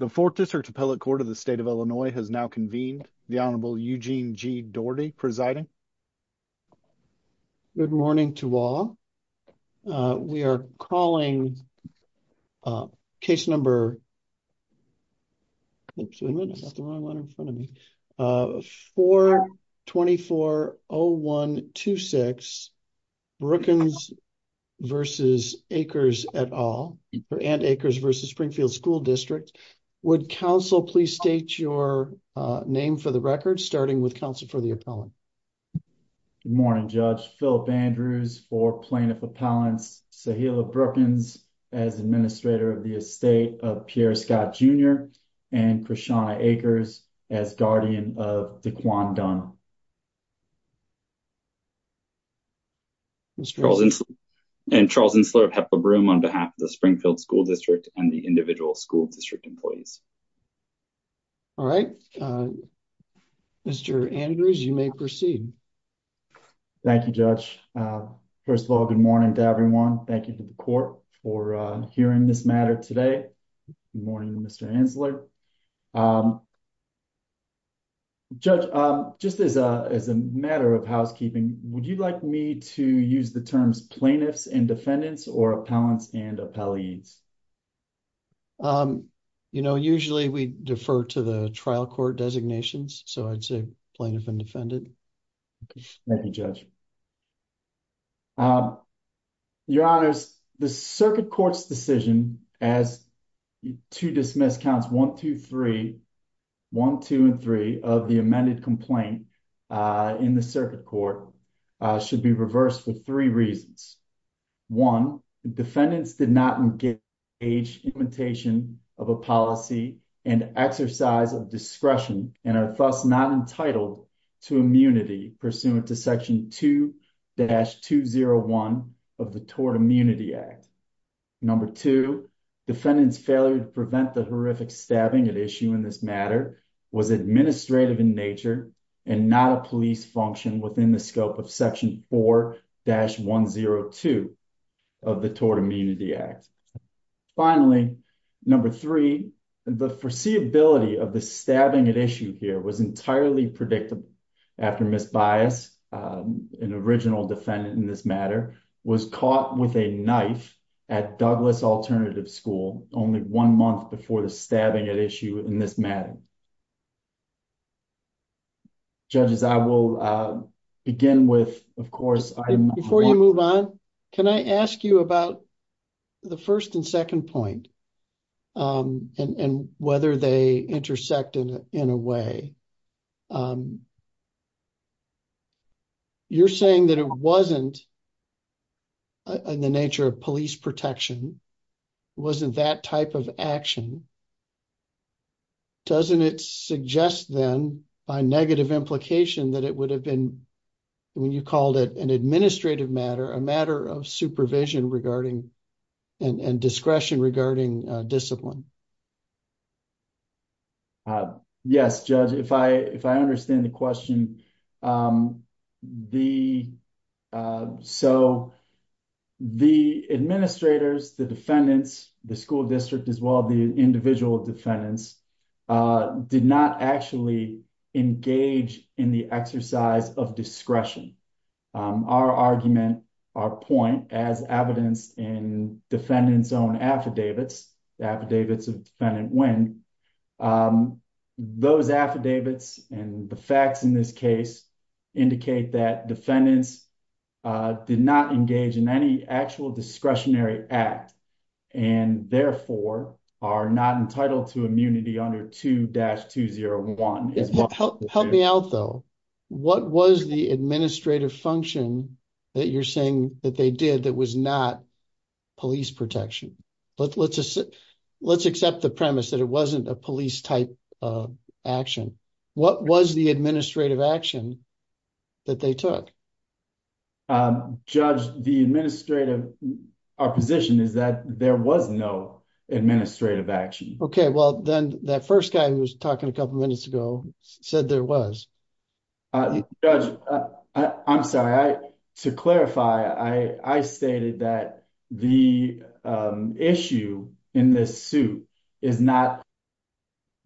The 4th District Appellate Court of the State of Illinois has now convened. The Honorable Eugene G. Doherty presiding. Good morning to all. We are calling case number 424-0126 Brookens v. Akers et al and Akers v. Springfield School District. Would counsel please state your name for the record starting with counsel for the appellant. Good morning Judge. Philip Andrews for Plaintiff Appellants. Sahila Brookens as Administrator of State of Pierre Scott Jr. and Krishana Akers as Guardian of Daquan Dunn. And Charles Insler of Hepler Broom on behalf of the Springfield School District and the individual school district employees. All right Mr. Andrews you may proceed. Thank you Judge. First of all good morning to everyone. Thank you to the court for hearing this today. Good morning Mr. Insler. Judge just as a matter of housekeeping would you like me to use the terms plaintiffs and defendants or appellants and appellees? You know usually we defer to the trial court designations so I'd say plaintiff and defendant. Thank you Judge. Your honors the circuit court's decision as to dismiss counts 1, 2, 3, 1, 2, and 3 of the amended complaint in the circuit court should be reversed for three reasons. One the defendants did not engage implementation of a policy and exercise of discretion and are not entitled to immunity pursuant to section 2-201 of the Tort Immunity Act. Number two defendant's failure to prevent the horrific stabbing at issue in this matter was administrative in nature and not a police function within the scope of section 4-102 of the Tort Immunity Act. Finally number three the foreseeability of the stabbing at issue here was entirely predictable after Ms. Bias, an original defendant in this matter, was caught with a knife at Douglas Alternative School only one month before the stabbing at issue in this matter. Thank you. Judges I will begin with of course. Before you move on can I ask you about the first and second point and whether they intersect in a way. You're saying that it wasn't in the nature of police protection wasn't that type of action and doesn't it suggest then by negative implication that it would have been when you called it an administrative matter a matter of supervision regarding and discretion regarding discipline. Yes judge if I understand the question. The administrators, the defendants, the school district as well the individual defendants did not actually engage in the exercise of discretion. Our argument our point as evidenced in defendant's own affidavits the affidavits of defendant when those affidavits and the facts in this case indicate that defendants did not engage in any actual discretionary act and therefore are not entitled to immunity under 2-201. Help me out though what was the administrative function that you're saying that they did that was not police protection. Let's accept the premise that it wasn't a police type of action. What was the administrative action that they took? Judge the administrative our position is that there was no administrative action. Okay well then that first guy who was talking a couple minutes ago said there was. Judge I'm sorry I to clarify I stated that the issue in this suit is not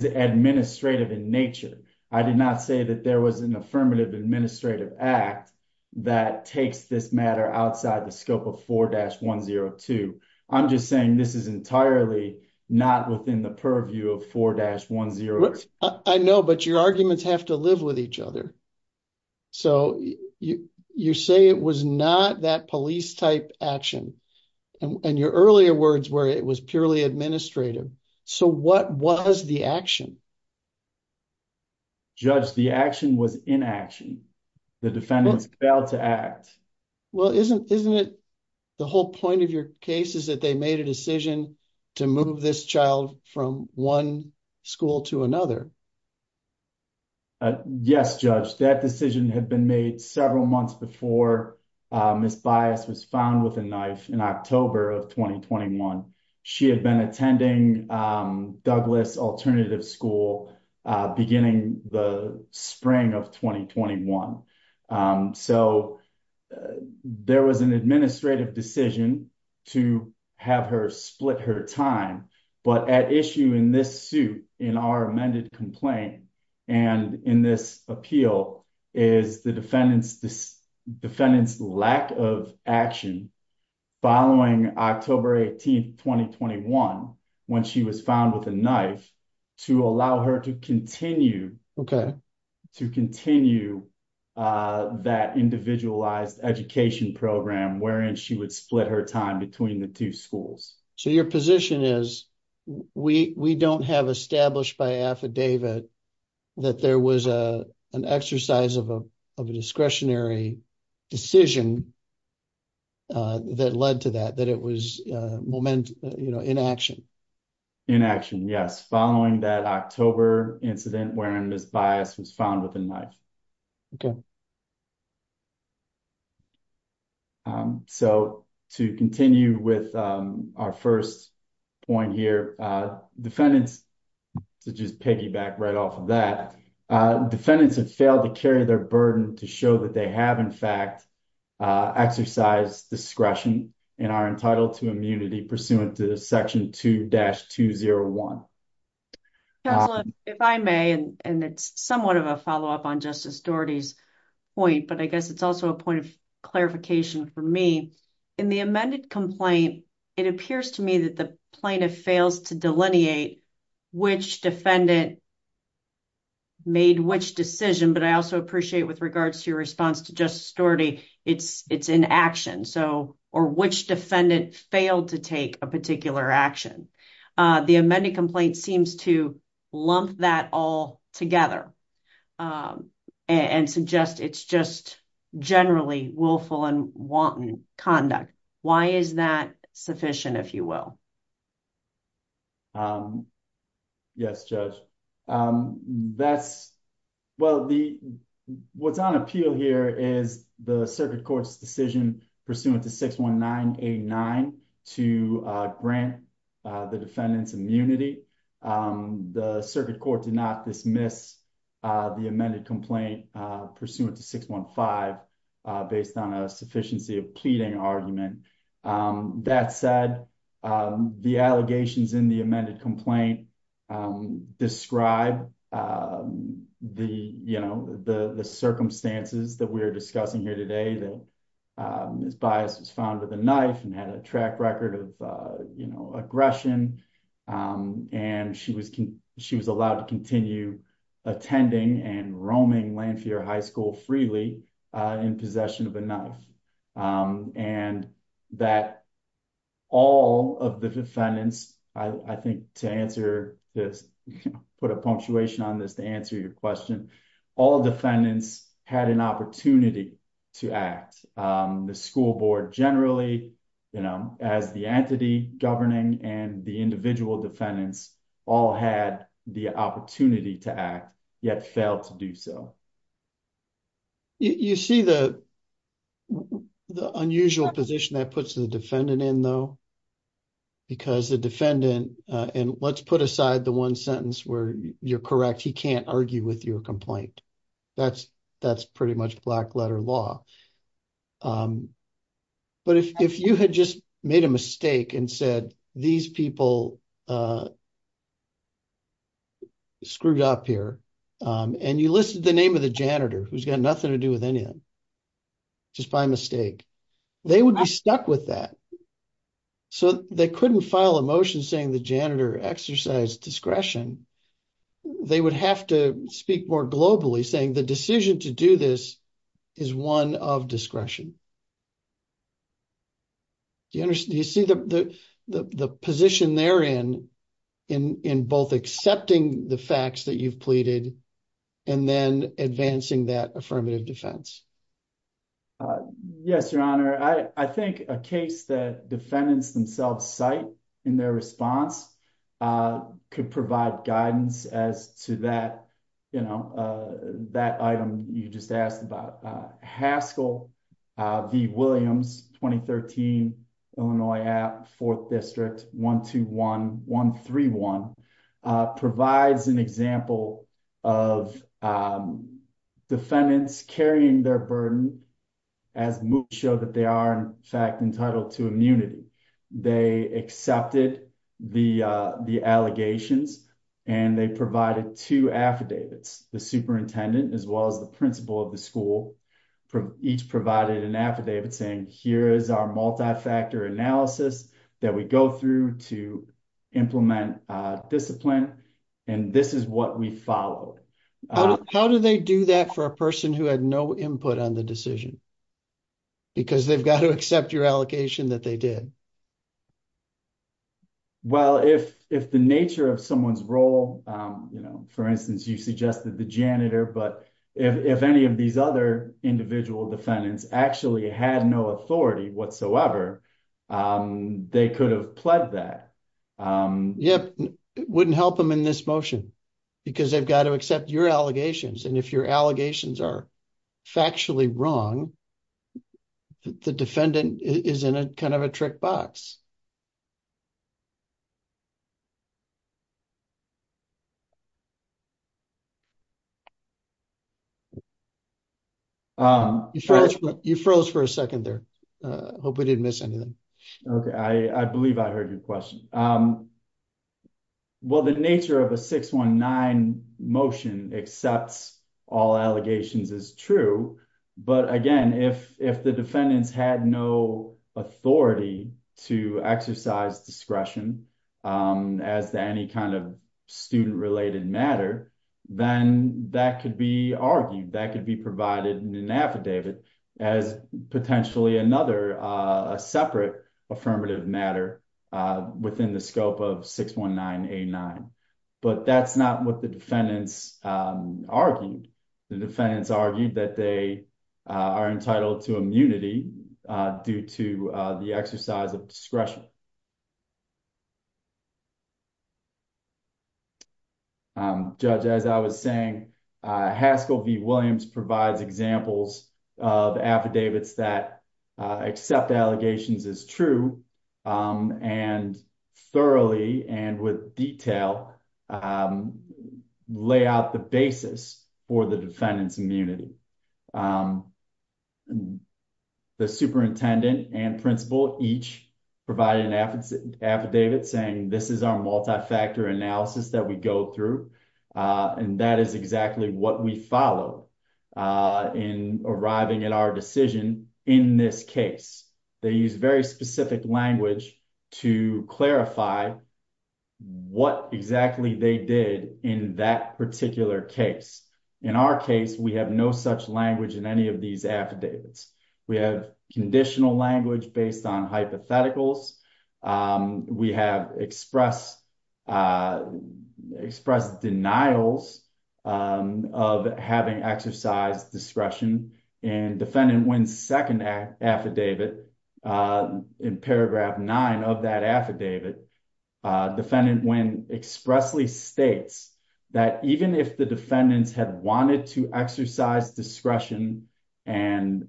administrative in nature. I did not say that there was an affirmative administrative act that takes this matter outside the scope of 4-102. I'm just saying this is entirely not within the view of 4-102. I know but your arguments have to live with each other. So you say it was not that police type action and your earlier words were it was purely administrative. So what was the action? Judge the action was inaction. The defendants failed to act. Well isn't isn't it the whole point of your case is that they made a decision to move this child from one school to another? Yes judge that decision had been made several months before Miss Bias was found with a knife in October of 2021. She had been attending Douglas Alternative School beginning the spring of 2021. So there was an administrative decision to have her split her time but at issue in this suit in our amended complaint and in this appeal is the defendant's this defendant's lack of action following October 18th 2021 when she was found with a knife to allow her to continue. Okay. To continue that individualized education program wherein she would split her time between the two schools. So your position is we we don't have established by affidavit that there was a an exercise of a of a discretionary decision that led to that that it was momentum you know inaction. Inaction yes following that October incident wherein Miss Bias was found with a knife. Okay. So to continue with our first point here defendants to just piggyback right off of that defendants have failed to carry their burden to show that they have in fact exercised discretion and are entitled to immunity pursuant to section 2-201. If I may and it's somewhat of a follow-up on Justice Doherty's point but I guess it's also a point of clarification for me in the amended complaint it appears to me that the plaintiff fails to delineate which defendant made which decision but I also appreciate with regards to response to Justice Doherty it's it's inaction so or which defendant failed to take a particular action. The amended complaint seems to lump that all together and suggest it's just generally willful and wanton conduct. Why is that sufficient if you will? Yes Judge that's well the what's on appeal here is the circuit court's decision pursuant to 619-89 to grant the defendant's immunity. The circuit court did not dismiss the amended complaint pursuant to 615 based on a sufficiency of pleading argument. That said the allegations in the amended complaint describe the you know the the circumstances that we're discussing here today that his bias was found with a knife and had a track record of you know aggression and she was she was allowed to continue attending and roaming Lanphier High School freely in possession of a knife and that all of the defendants I think to answer this put a punctuation on this to answer your question all defendants had an opportunity to act. The school board generally you know as the entity governing and the individual defendants all had the opportunity to act yet failed to do so. You see the the unusual position that puts the defendant in though because the defendant and let's put aside the one sentence where you're correct he can't argue with your complaint that's that's pretty much black letter law. But if you had just made a mistake and said these people screwed up here and you listed the name of the janitor who's got nothing to do with anything just by mistake they would be stuck with that so they couldn't file a motion saying the janitor exercised discretion they would have to speak more globally saying the decision to do this is one of discretion. Do you understand do you see the the the position they're in in in both accepting the facts that you've pleaded and then advancing that affirmative defense? Yes your honor I I think a case that defendants themselves cite in their response could provide guidance as to that you know that item you just asked about. Haskell v Williams 2013 Illinois app fourth district 121131 provides an example of defendants carrying their burden as moves show that they are in fact entitled to immunity. They accepted the the allegations and they provided two affidavits the superintendent as well as the principal of the school each provided an affidavit saying here is our multi-factor analysis that we go through to implement discipline and this is what we followed. How do they do that for a person who had no input on the decision because they've got to accept your allegation that they did? Well if if the nature of someone's role you know for instance you suggested the janitor but if any of these other individual defendants actually had no authority whatsoever they could have pled that. Yep it wouldn't help them in this motion because they've got to accept your allegations and if your allegations are factually wrong the defendant is in a kind of a trick box. You froze for a second there I hope we didn't miss anything. Okay I believe I heard your question. Well the nature of a 619 motion accepts all allegations is true but again if if the defendants had no authority to exercise discretion as to any kind of student related matter then that could be argued that could be provided in an affidavit as potentially another a separate affirmative matter within the scope of 619-89 but that's not what the defendants argued. The defendants argued that they are entitled to immunity due to the exercise of discretion. Judge as I was saying Haskell v. Williams provides examples of affidavits that accept allegations as true and thoroughly and with detail lay out the basis for the defendant's immunity. The superintendent and principal each provided an affidavit saying this is our multi-factor analysis that we go through and that is exactly what we follow in arriving at our decision in this case. They use very specific language to clarify what exactly they did in that particular case. In our case we have no such language in any of these affidavits. We have conditional language based on hypotheticals. We have expressed denials of having exercised discretion and defendant when second affidavit in paragraph nine of that affidavit defendant when expressly states that even if the defendants had wanted to exercise discretion and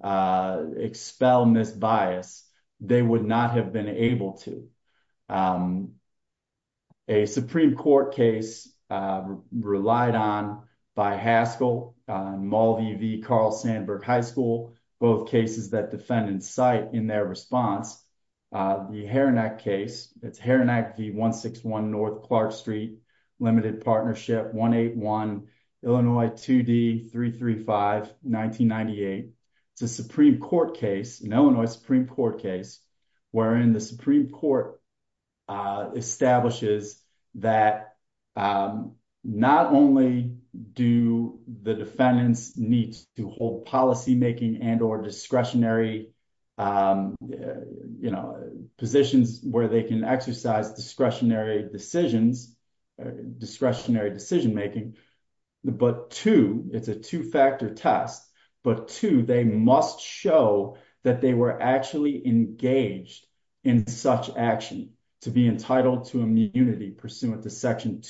expel misbias they would not have been able to. A Supreme Court case relied on by Haskell, Mulvey v. Carl Sandburg High School both cases that defendants cite in their response. The Harenac case it's Harenac v. 161 North Clark Street Limited Partnership 181 Illinois 2D 335 1998. It's a Supreme Court case an Illinois Supreme Court case wherein the Supreme Court establishes that not only do the defendants need to hold policymaking and or discretionary positions where they can exercise discretionary decisions discretionary decision making but two it's a two-factor test but two they must show that they were actually engaged in such action to be entitled to immunity pursuant to section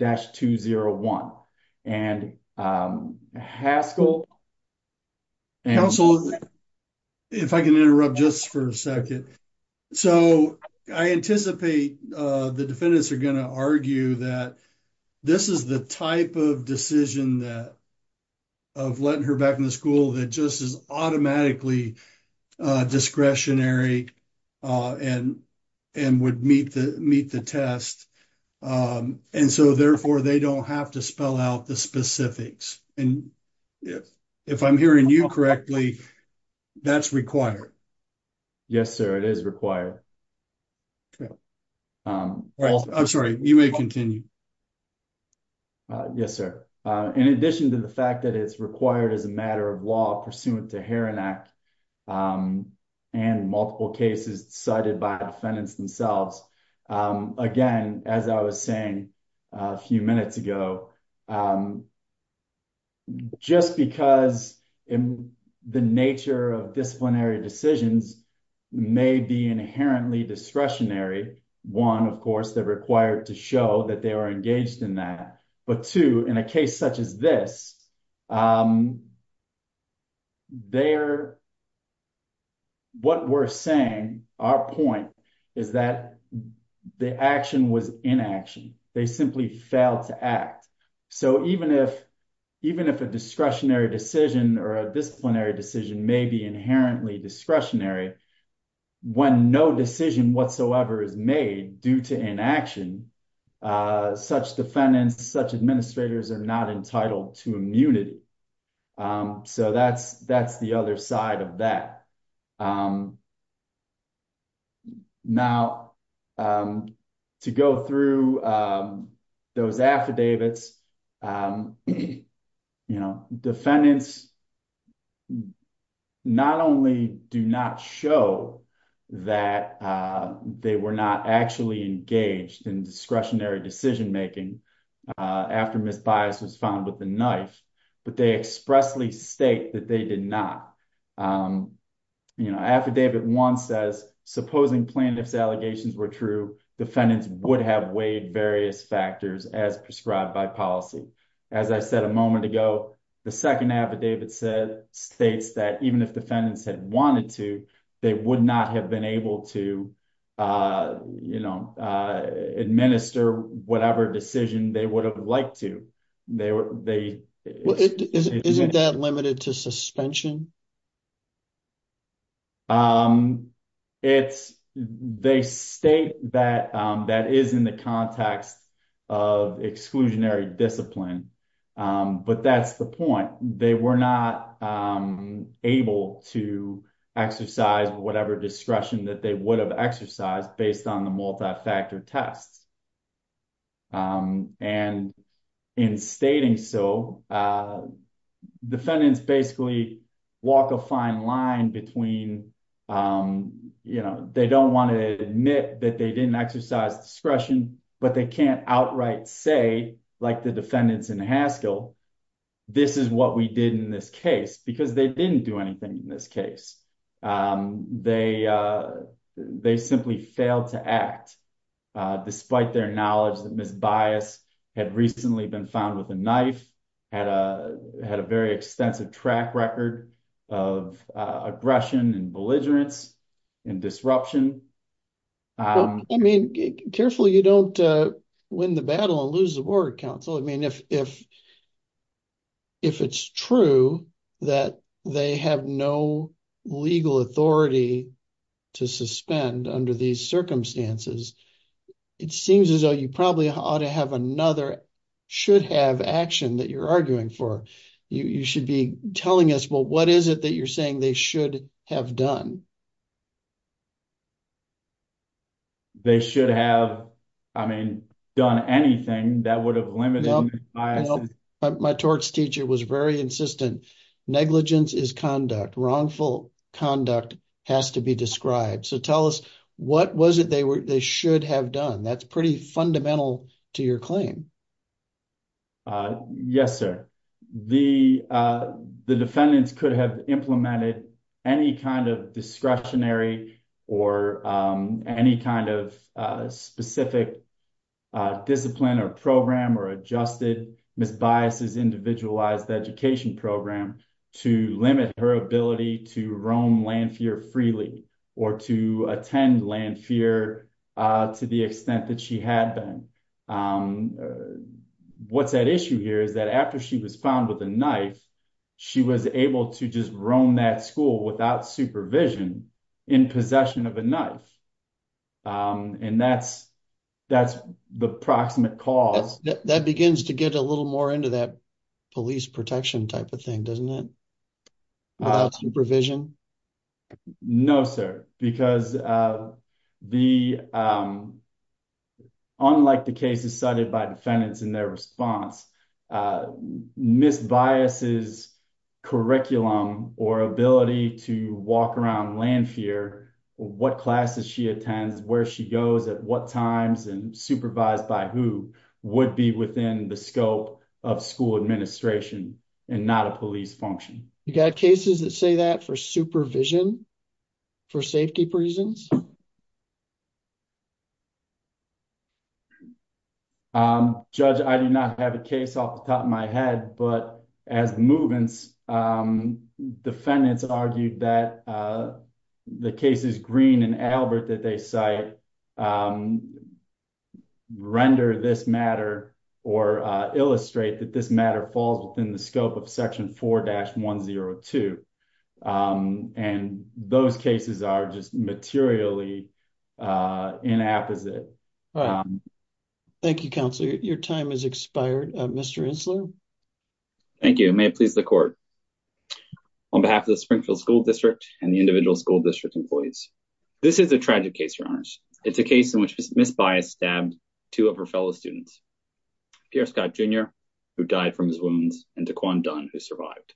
2-201 and Haskell counsel if I can interrupt just for a second so I anticipate the defendants are going to argue that this is the type of decision that of letting her back in the school that just is automatically uh discretionary uh and and would meet the meet the test um and so therefore they don't have to allow the specifics and if if I'm hearing you correctly that's required yes sir it is required okay um I'm sorry you may continue uh yes sir uh in addition to the fact that it's required as a matter of law pursuant to Harenac um and multiple cases decided by defendants themselves um again as I was saying a few minutes ago um just because in the nature of disciplinary decisions may be inherently discretionary one of course they're required to show that they are engaged in that but two in a case such as this um they're what we're saying our point is that the action was inaction they simply failed to act so even if even if a discretionary decision or a disciplinary decision may be inherently discretionary when no decision whatsoever is made due to inaction uh such defendants such administrators are not entitled to immunity um so that's that's the other side of that um now um to go through um those affidavits um you know defendants not only do not show that uh they were not actually engaged in discretionary decision making uh after misbias was found with the knife but they expressly state that they did not um you know affidavit one says supposing plaintiff's allegations were true defendants would have weighed various factors as prescribed by policy as I said a moment ago the second affidavit said states that even if defendants had wanted to they would not have been able to uh you know uh administer whatever decision they would have liked to they were they isn't that limited to suspension um it's they state that um that is in the context of exclusionary discipline um but that's the point they were not um able to exercise whatever discretion that they would have exercised based on the multi-factor tests um and in stating so uh defendants basically walk a fine line between um you know they don't want to admit that they didn't exercise discretion but they can't outright say like the defendants in Haskell this is what we did in this case because they didn't do anything in this case um they uh they simply failed to act uh despite their knowledge that misbias had recently been found with a knife had a had a very extensive track of uh aggression and belligerence and disruption um I mean carefully you don't uh win the battle and lose the board council I mean if if if it's true that they have no legal authority to suspend under these circumstances it seems as though you probably ought to have another should have action that you're arguing for you you should be telling us well what is it that you're saying they should have done they should have I mean done anything that would have limited my torts teacher was very insistent negligence is conduct wrongful conduct has to be described so tell us what was it they were they should have done that's pretty fundamental to your claim uh yes sir the uh the defendants could have implemented any kind of discretionary or um any kind of uh specific uh discipline or program or adjusted misbiases individualized education program to limit her ability to roam freely or to attend land fear uh to the extent that she had been um what's that issue here is that after she was found with a knife she was able to just roam that school without supervision in possession of a knife um and that's that's the proximate cause that begins to get a little more into that police protection type of thing doesn't it without supervision no sir because uh the um unlike the cases cited by defendants in their response uh misbiases curriculum or ability to walk around land fear what classes she attends where she goes at what times and supervised by who would be within the scope of school administration and not a police function you got cases that say that for supervision for safety reasons um judge i do not have a case off the top of my head but as movements um defendants argued that the cases green and albert that they cite um render this matter or uh illustrate that this matter falls within the scope of section 4-102 um and those cases are just materially uh inapposite thank you counsel your time has expired uh mr insler thank you may it please the court on behalf of the springfield school district and the individual school district employees this is a tragic case your honors it's a case in which miss bias stabbed two of her fellow students pierre scott jr who died from his wounds and taquan dunn who survived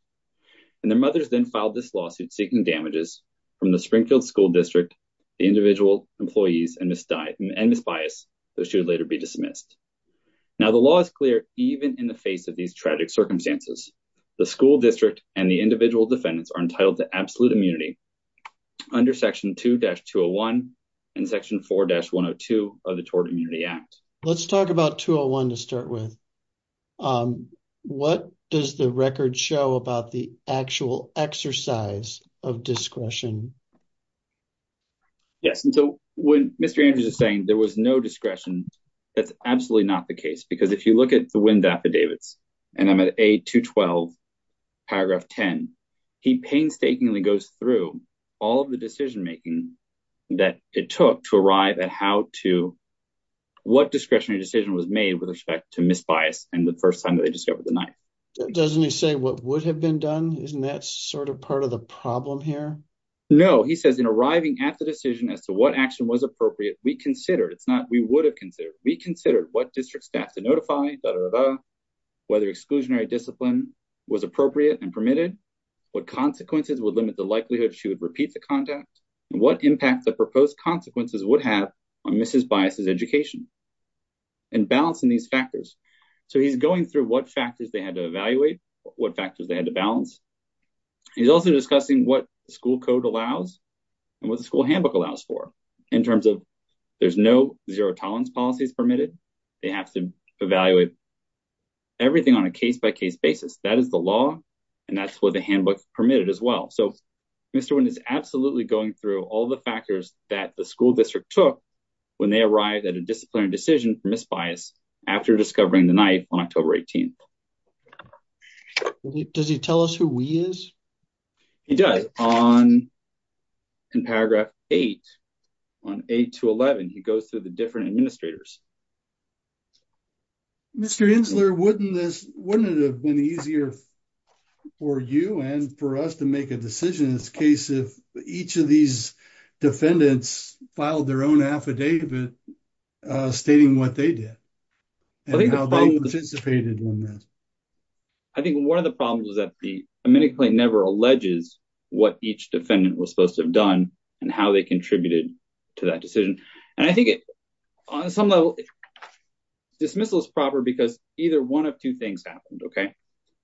and their mothers then filed this lawsuit seeking damages from the springfield school district the individual employees and miss died and miss bias that should later be dismissed now the law is clear even in the face of these tragic circumstances the school district and the individual defendants are entitled to absolute immunity under section 2-201 and section 4-102 of the tort immunity act let's talk about 201 to start with um what does the record show about the actual exercise of discretion yes and so when mr andrews is saying there was no discretion that's absolutely not the case because if you look at the wind affidavits and i'm at a212 paragraph 10 he painstakingly goes through all of the decision making that it took to arrive at how to what discretionary decision was made with respect to miss bias and the first time that they discovered the knife doesn't he say what would have been done isn't that sort of part of the problem here no he says in arriving at the decision as to what action was appropriate we considered it's not we would have considered we considered what district staff to notify whether exclusionary discipline was appropriate and permitted what consequences would limit the likelihood she would repeat the contact and what impact the proposed consequences would have on mrs bias's education and balancing these factors so he's going through what factors they had to evaluate what factors they had to balance he's also discussing what the school code allows and what the school handbook allows for in terms of there's no zero tolerance policies permitted they have to evaluate everything on a case-by-case basis that is the law and that's what the handbook permitted as well so mr wind is absolutely going through all the factors that the school district took when they arrived at a disciplinary decision for misbias after discovering the knife on october 18th does he tell us who we is he does on in paragraph 8 on 8 to 11 he goes through the different administrators mr insular wouldn't this wouldn't it have been easier for you and for us to make a decision in this case if each of these defendants filed their own affidavit uh stating what they did and how they participated in this i think one of the problems is that the amendment never alleges what each defendant was supposed to have done and how they contributed to that decision and i think it on some level dismissal is proper because either one of two things happened okay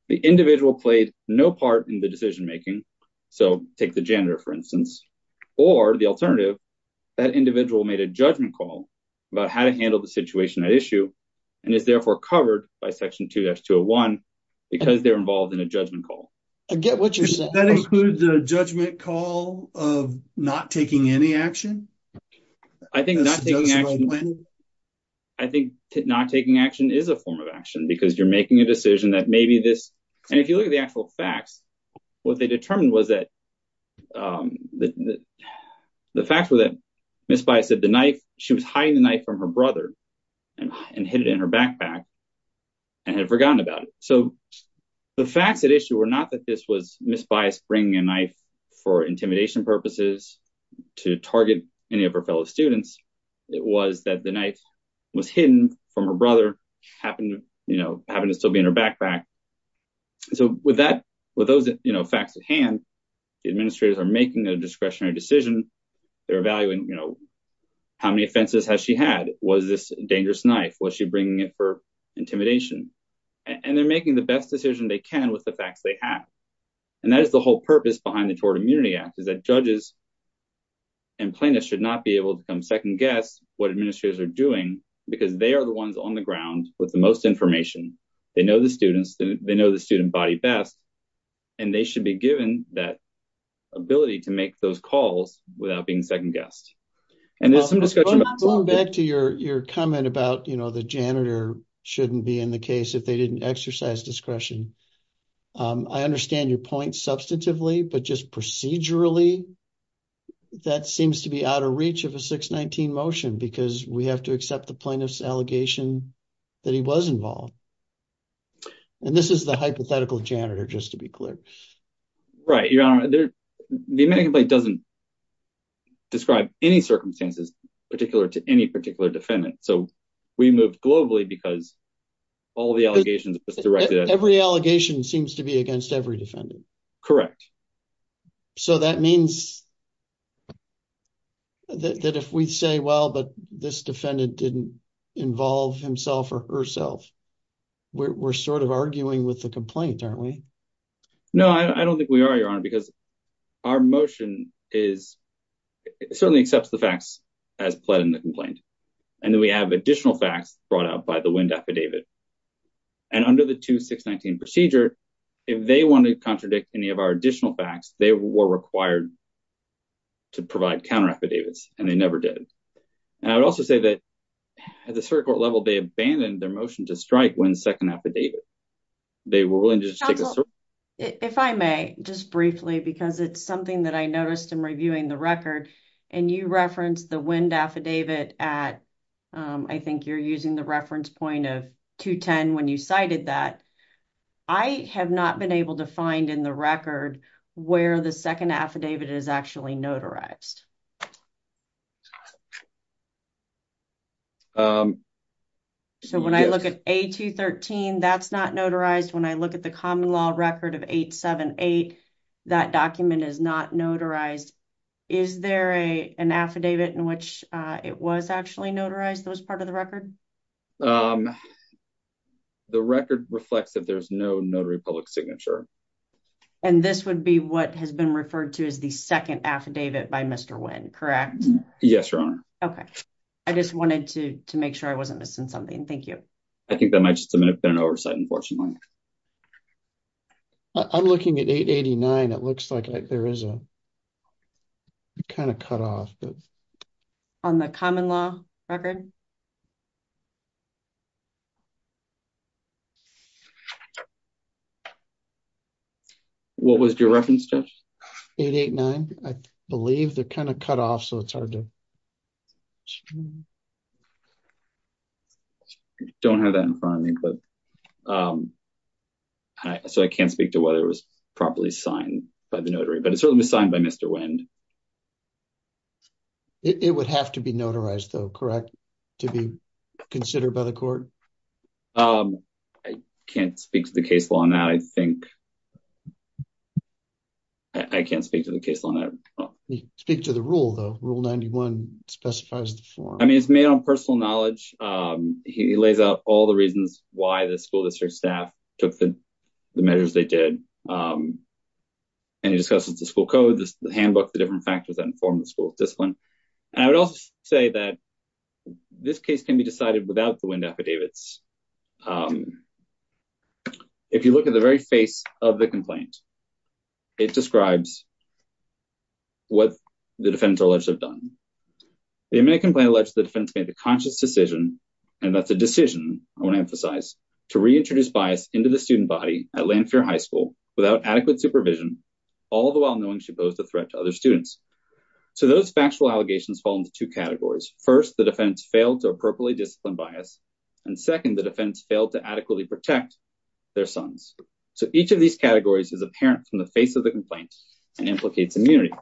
the individual played no part in the decision making so take the janitor for instance or the alternative that individual made a judgment call about how to issue and is therefore covered by section 2-201 because they're involved in a judgment call i get what you're saying that includes a judgment call of not taking any action i think i think not taking action is a form of action because you're making a decision that maybe this and if you look at the actual facts what they determined was that um the the facts were that Miss Bias said the knife she was hiding the knife from her brother and and hid it in her backpack and had forgotten about it so the facts at issue were not that this was Miss Bias bringing a knife for intimidation purposes to target any of her fellow students it was that the knife was hidden from her brother happened you know happened to still be in her backpack so with that with those you know facts at hand the administrators are making a discretionary decision they're evaluating you know how many offenses has she had was this dangerous knife was she bringing it for intimidation and they're making the best decision they can with the facts they have and that is the whole purpose behind the Tort Immunity Act is that judges and plaintiffs should not be able to come second guess what administrators are doing because they are the ones on the ground with the most information they know the students they know student body best and they should be given that ability to make those calls without being second guessed and there's some discussion going back to your your comment about you know the janitor shouldn't be in the case if they didn't exercise discretion um i understand your point substantively but just procedurally that seems to be out of reach of a 619 motion because we have to accept the plaintiff's allegation that he was involved and this is the hypothetical janitor just to be clear right your honor there the amendment doesn't describe any circumstances particular to any particular defendant so we moved globally because all the allegations was directed at every allegation seems to be against every defendant correct so that means that if we say well but this defendant didn't involve himself or herself we're sort of arguing with the complaint aren't we no i don't think we are your honor because our motion is certainly accepts the facts as pled in the complaint and then we have additional facts brought out by the wind affidavit and under the 2619 procedure if they want to contradict any of our additional facts they were required to provide counter affidavits and they never did and i would also say that at the circuit level they abandoned their motion to strike when second affidavit they were willing to just take a circle if i may just briefly because it's something that i noticed in reviewing the record and you referenced the wind affidavit at um i think you're using the point of 210 when you cited that i have not been able to find in the record where the second affidavit is actually notarized um so when i look at a 213 that's not notarized when i look at the common law record of 878 that document is not notarized is there a an affidavit in which uh it was actually notarized that was part of the record um the record reflects that there's no notary public signature and this would be what has been referred to as the second affidavit by mr win correct yes your honor okay i just wanted to to make sure i wasn't missing something thank you i think that might just have been an oversight unfortunately i'm looking at 889 it looks like there is a it's kind of cut off but on the common law record what was your reference judge 889 i believe they're kind of cut off so it's hard to don't have that in front of me but um i so i can't speak to whether it was properly signed by the notary but it certainly was signed by mr wind it would have to be notarized though correct to be considered by the court um i can't speak to the case law on that i think i can't speak to the case on that speak to the rule though rule 91 specifies the form i mean it's made on personal knowledge um he lays out all the reasons why the school district staff took the measures they did um and he discusses the school code the handbook the different factors that inform the school discipline and i would also say that this case can be decided without the wind affidavits um if you look at the very face of the complaint it describes what the defendants are alleged to have done the immediate complaint alleged the defense made the conscious decision and that's a decision i emphasize to reintroduce bias into the student body at lanfair high school without adequate supervision all the while knowing she posed a threat to other students so those factual allegations fall into two categories first the defense failed to appropriately discipline bias and second the defense failed to adequately protect their sons so each of these categories is apparent from the face of the complaint and implicates immunity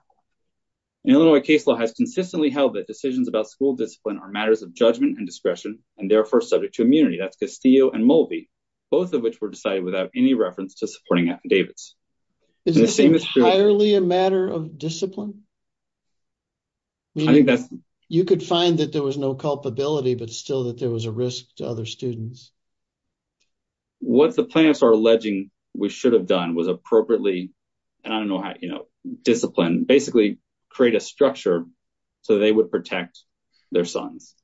an illinois case law has consistently held that decisions about school discipline are matters of judgment and discretion and therefore subject to immunity that's castillo and molby both of which were decided without any reference to supporting affidavits is this entirely a matter of discipline i think that's you could find that there was no culpability but still that there was a risk to other students what the planets are alleging we should have done was appropriately and i don't know how you know discipline basically create a structure so they would protect their sons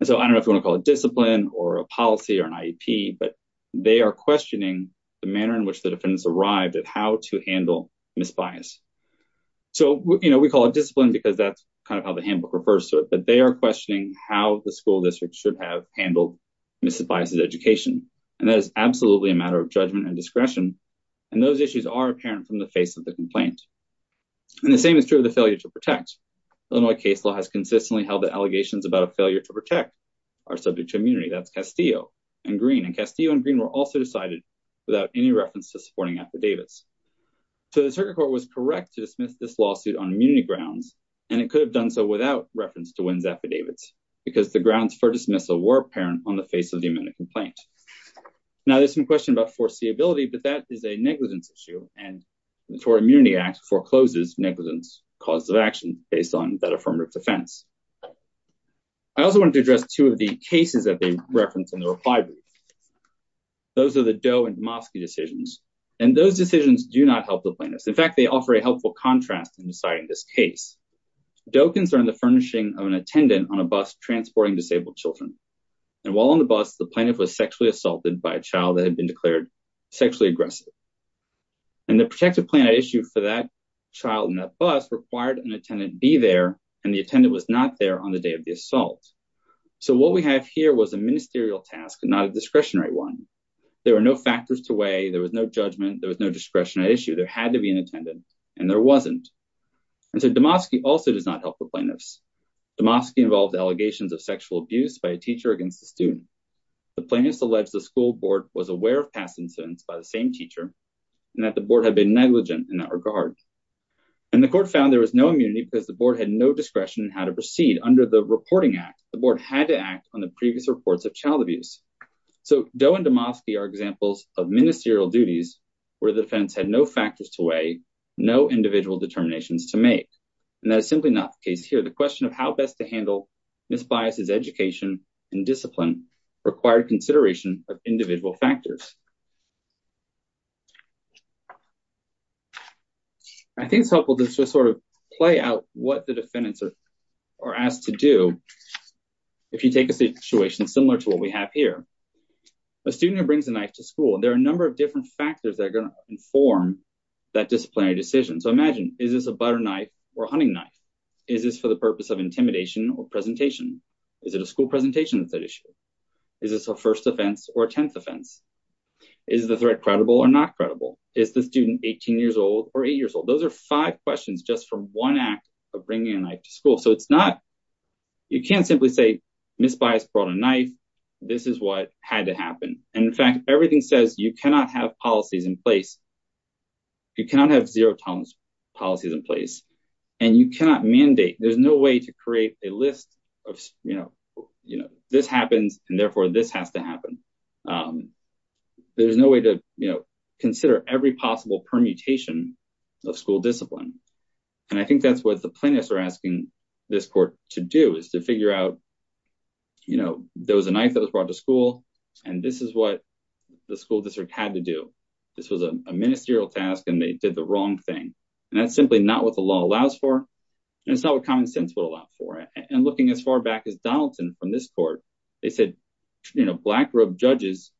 and so i don't know if you want to call it discipline or a policy or an iep but they are questioning the manner in which the defendants arrived at how to handle misbias so you know we call it discipline because that's kind of how the handbook refers to it but they are questioning how the school district should have handled misadvices education and that is absolutely a matter of judgment and discretion and those issues are apparent from the face of the complaint and the same is true of the failure to protect illinois case law has consistently held the to protect are subject to immunity that's castillo and green and castillo and green were also decided without any reference to supporting affidavits so the circuit court was correct to dismiss this lawsuit on immunity grounds and it could have done so without reference to win's affidavits because the grounds for dismissal were apparent on the face of the imminent complaint now there's some question about foreseeability but that is a negligence issue and the tort immunity act forecloses negligence causes of action based on that affirmative defense i also wanted to address two of the cases that they referenced in the reply brief those are the doe and domovsky decisions and those decisions do not help the plaintiffs in fact they offer a helpful contrast in deciding this case doe concerned the furnishing of an attendant on a bus transporting disabled children and while on the bus the plaintiff was sexually assaulted by a child that had been declared sexually aggressive and the protective plan i issued for that child that bus required an attendant be there and the attendant was not there on the day of the assault so what we have here was a ministerial task not a discretionary one there were no factors to weigh there was no judgment there was no discretion i issue there had to be an attendant and there wasn't and so domovsky also does not help the plaintiffs domovsky involved allegations of sexual abuse by a teacher against the student the plaintiffs alleged the school board was aware of past incidents by the same teacher and that the board had been negligent in that regard and the court found there was no immunity because the board had no discretion how to proceed under the reporting act the board had to act on the previous reports of child abuse so doe and domovsky are examples of ministerial duties where the defense had no factors to weigh no individual determinations to make and that is simply not the case here the question of how best to handle misbias is education and discipline required consideration of individual factors i think it's helpful just to sort of play out what the defendants are asked to do if you take a situation similar to what we have here a student who brings a knife to school and there are a number of different factors that are going to inform that disciplinary decision so imagine is this a butter knife or a hunting knife is this for the purpose of intimidation or presentation is it a school presentation that issue is this a first offense or a tenth offense is the threat credible or not credible is the student 18 years old or eight years old those are five questions just from one act of bringing a knife to school so it's not you can't simply say misbias brought a knife this is what had to happen and in fact everything says you cannot have policies in place you cannot have zero tolerance policies in place and you cannot mandate there's no way to create a list of you know you know this happens and therefore this has to happen there's no way to you know consider every possible permutation of school discipline and i think that's what the plaintiffs are asking this court to do is to figure out you know there was a knife that was brought to school and this is what the school district had to do this was a ministerial task and they did the wrong thing and that's simply not what the law allows for and it's not what common sense would allow for it and looking as far back as from this court they said you know black robe judges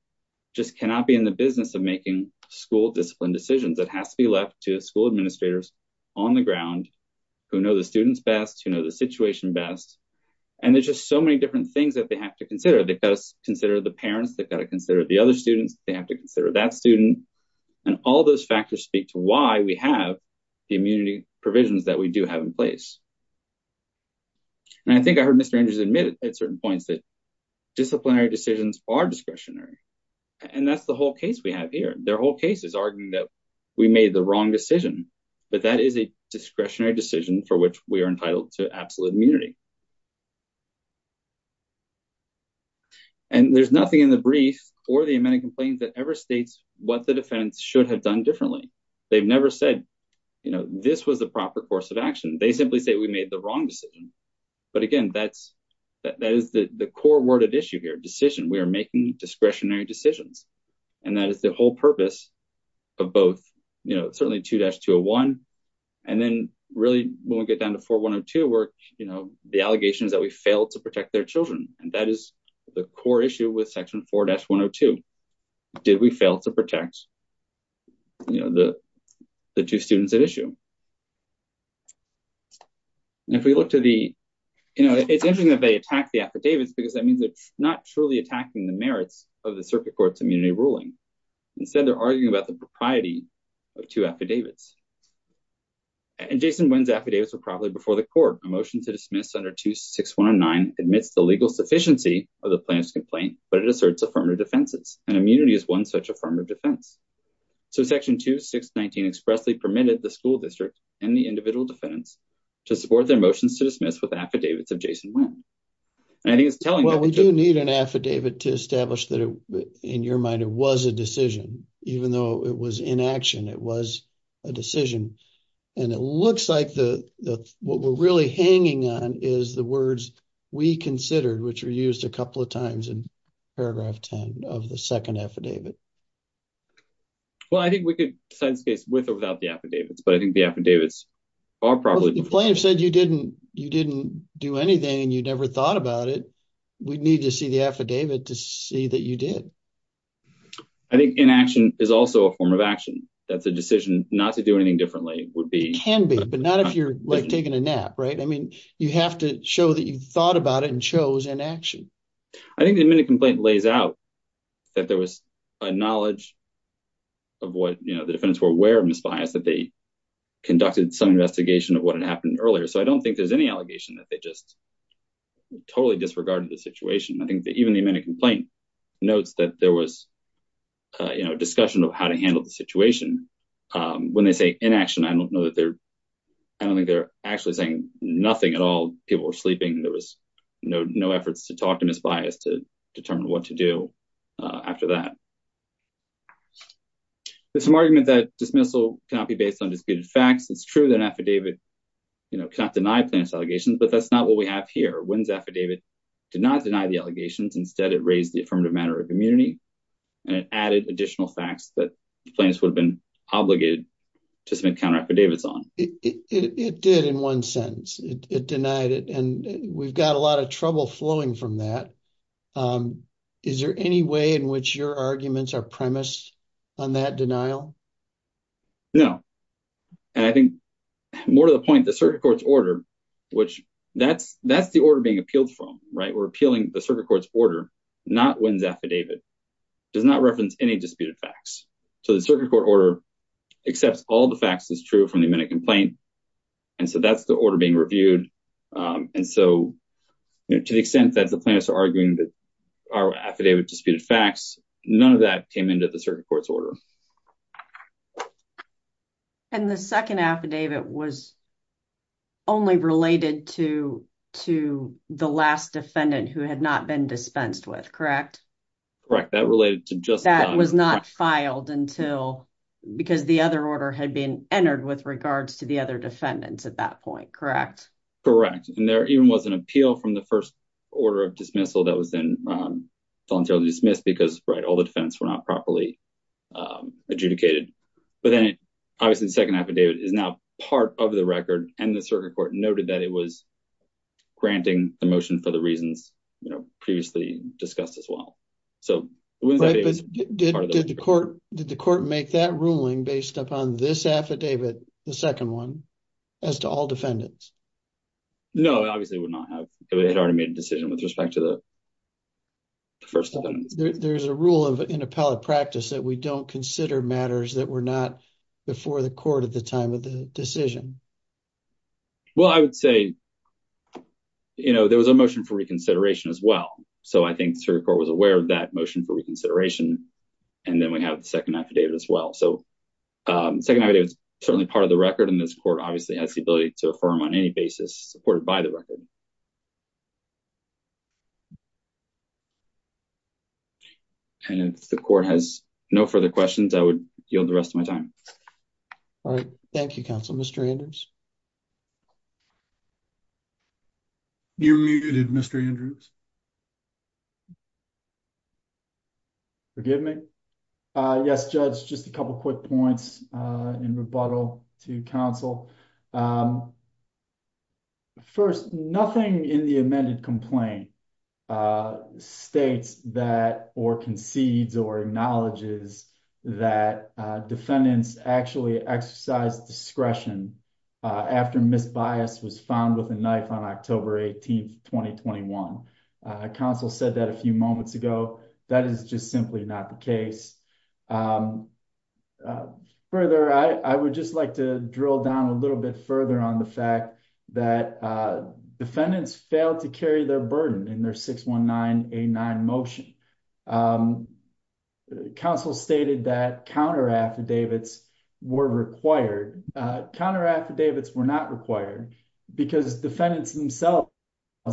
just cannot be in the business of making school discipline decisions that has to be left to school administrators on the ground who know the students best you know the situation best and there's just so many different things that they have to consider they've got to consider the parents they've got to consider the other students they have to consider that student and all those factors speak to why we have the immunity admitted at certain points that disciplinary decisions are discretionary and that's the whole case we have here their whole case is arguing that we made the wrong decision but that is a discretionary decision for which we are entitled to absolute immunity and there's nothing in the brief or the amended complaint that ever states what the defense should have done differently they've never said you know this was the proper course of action they simply say we made the wrong decision but again that's that is the the core word at issue here decision we are making discretionary decisions and that is the whole purpose of both you know certainly 2-201 and then really when we get down to 4-102 where you know the allegation is that we failed to protect their children and that is the core issue with section 4-102 did we fail to protect you know the the two students at issue and if we look to the you know it's interesting that they attack the affidavits because that means they're not truly attacking the merits of the circuit court's immunity ruling instead they're arguing about the propriety of two affidavits and Jason Wynn's affidavits were probably before the court a motion to dismiss under 26109 admits the legal sufficiency of the plaintiff's complaint but it asserts affirmative defenses and immunity is one affirmative defense so section 2619 expressly permitted the school district and the individual defendants to support their motions to dismiss with affidavits of Jason Wynn and I think it's telling well we do need an affidavit to establish that in your mind it was a decision even though it was in action it was a decision and it looks like the what we're really hanging on is the words we considered which are used a couple of times in paragraph 10 of the second affidavit well I think we could decide this case with or without the affidavits but I think the affidavits are probably the plaintiff said you didn't you didn't do anything and you never thought about it we need to see the affidavit to see that you did I think in action is also a form of action that's a decision not to do anything differently would be can be but not if you're like taking a nap right I mean you have to show that you thought about it and in action I think the amended complaint lays out that there was a knowledge of what you know the defendants were aware of misbias that they conducted some investigation of what had happened earlier so I don't think there's any allegation that they just totally disregarded the situation I think that even the amended complaint notes that there was uh you know discussion of how to handle the situation um when they say inaction I don't know that they're I don't think they're actually saying nothing at all people were sleeping there was no efforts to talk to misbias to determine what to do after that there's some argument that dismissal cannot be based on disputed facts it's true that affidavit you know cannot deny plaintiff's allegations but that's not what we have here Wynn's affidavit did not deny the allegations instead it raised the affirmative matter of immunity and it added additional facts that plaintiffs would have been obligated to submit counter it did in one sentence it denied it and we've got a lot of trouble flowing from that um is there any way in which your arguments are premised on that denial no and I think more to the point the circuit court's order which that's that's the order being appealed from right we're appealing the circuit court's order not Wynn's affidavit does not reference any disputed so the circuit court order accepts all the facts that's true from the amendment complaint and so that's the order being reviewed um and so to the extent that the plaintiffs are arguing that our affidavit disputed facts none of that came into the circuit court's order and the second affidavit was only related to to the last defendant who had not been dispensed with correct that related to just that was not filed until because the other order had been entered with regards to the other defendants at that point correct correct and there even was an appeal from the first order of dismissal that was then um voluntarily dismissed because right all the defense were not properly um adjudicated but then obviously the second affidavit is now part of the record and the circuit court noted that it was granting the motion for the reasons you know previously discussed as well so did the court did the court make that ruling based upon this affidavit the second one as to all defendants no obviously would not have had already made a decision with respect to the first there's a rule of in appellate practice that we don't consider matters that were not before the court at the time of the decision well i would say you know there was a motion for reconsideration as well so i think the circuit court was aware of that motion for reconsideration and then we have the second affidavit as well so um second idea is certainly part of the record and this court obviously has the ability to affirm on any basis supported by the record and if the court has no further questions i would yield the rest of my time all right thank you counsel mr andrews you're muted mr andrews forgive me uh yes judge just a couple quick points uh in rebuttal to council um first nothing in the amended complaint uh states that or concedes or acknowledges that uh defendants actually exercised discretion uh after misbias was found with a knife on october 18th 2021 council said that a few moments ago that is just simply not the case further i i would just like to drill down a little bit further on the fact that uh defendants failed to carry their burden in their 61989 motion um the council stated that counter affidavits were required uh counter affidavits were not required because defendants themselves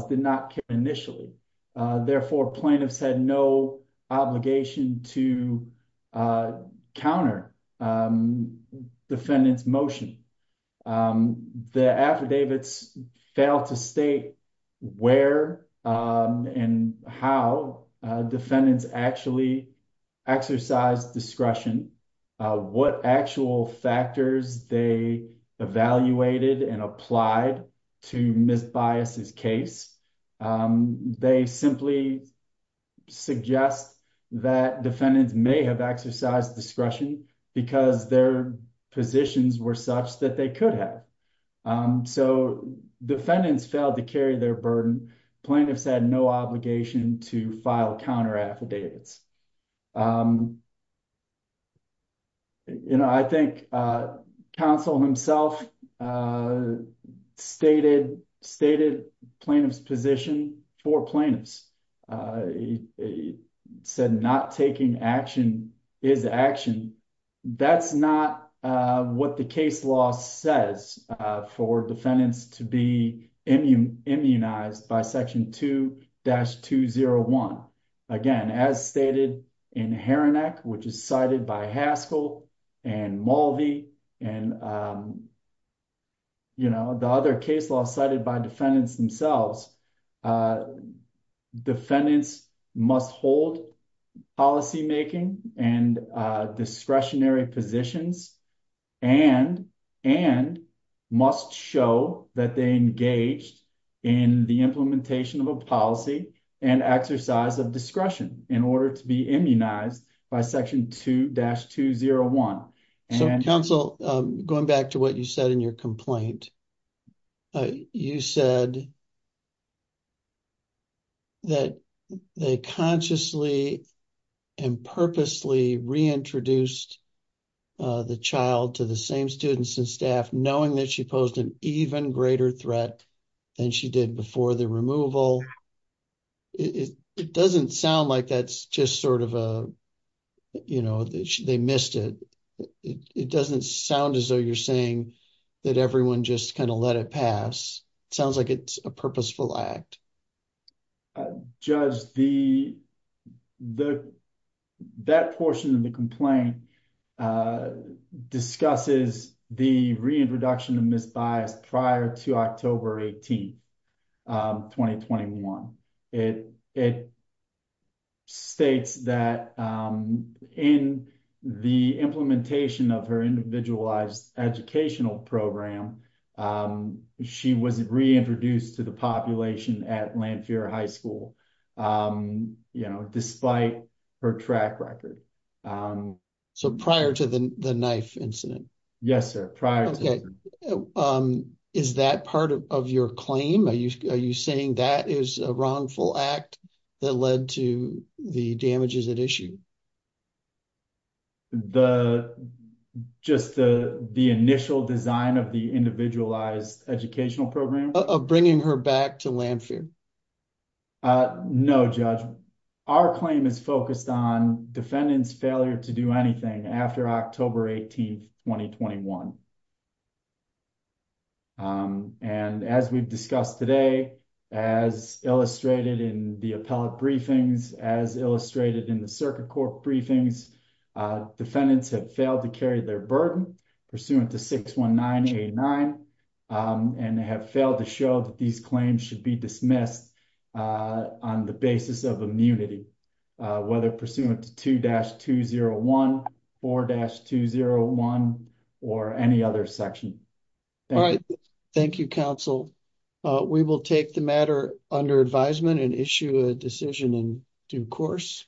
did not care initially uh therefore plaintiffs had no obligation to uh counter um defendants motion um the affidavits failed to state where um and how uh defendants actually exercised discretion uh what actual factors they evaluated and applied to misbias's case um they simply suggest that defendants may have exercised discretion because their positions were such that they could have um so defendants failed to carry their burden plaintiffs had no obligation to file counter affidavits you know i think uh council himself uh stated stated plaintiff's position for plaintiffs uh he said not taking action is action that's not uh what the case law says for defendants to be immunized by section 2-201 again as stated in haranek which is cited by haskell and malvi and um you know the other case law cited by defendants themselves uh defendants must hold policy making and uh discretionary positions and and must show that they engaged in the implementation of a policy and exercise of discretion in order to be immunized by section 2-201 and council um going back to what you said in your complaint uh you said that they consciously and purposely reintroduced uh the child to the same students and staff knowing that she posed an even greater threat than she did before the removal it it doesn't sound like that's just sort of a you know they missed it it doesn't sound as you're saying that everyone just kind of let it pass it sounds like it's a purposeful act judge the the that portion of the complaint uh discusses the reintroduction of misbias prior to october 18th um 2021 it it states that um in the implementation of her individualized educational program um she was reintroduced to the population at lanphier high school um you know despite her track record um so prior to the the knife incident yes sir prior okay um is that part of your claim are you are you saying that is a wrongful act that led to the damages at issue the just the the initial design of the individualized educational program of bringing her back to lanphier uh no judge our claim is focused on defendant's failure to do anything after october 18th 2021 and as we've discussed today as illustrated in the appellate briefings as illustrated in the circuit court briefings uh defendants have failed to carry their burden pursuant to 61989 and they have failed to show that these claims should be dismissed uh on the basis of immunity uh whether pursuant to 2-201 4-201 or any other section all right thank you counsel uh we will take the matter under advisement and issue a decision in due course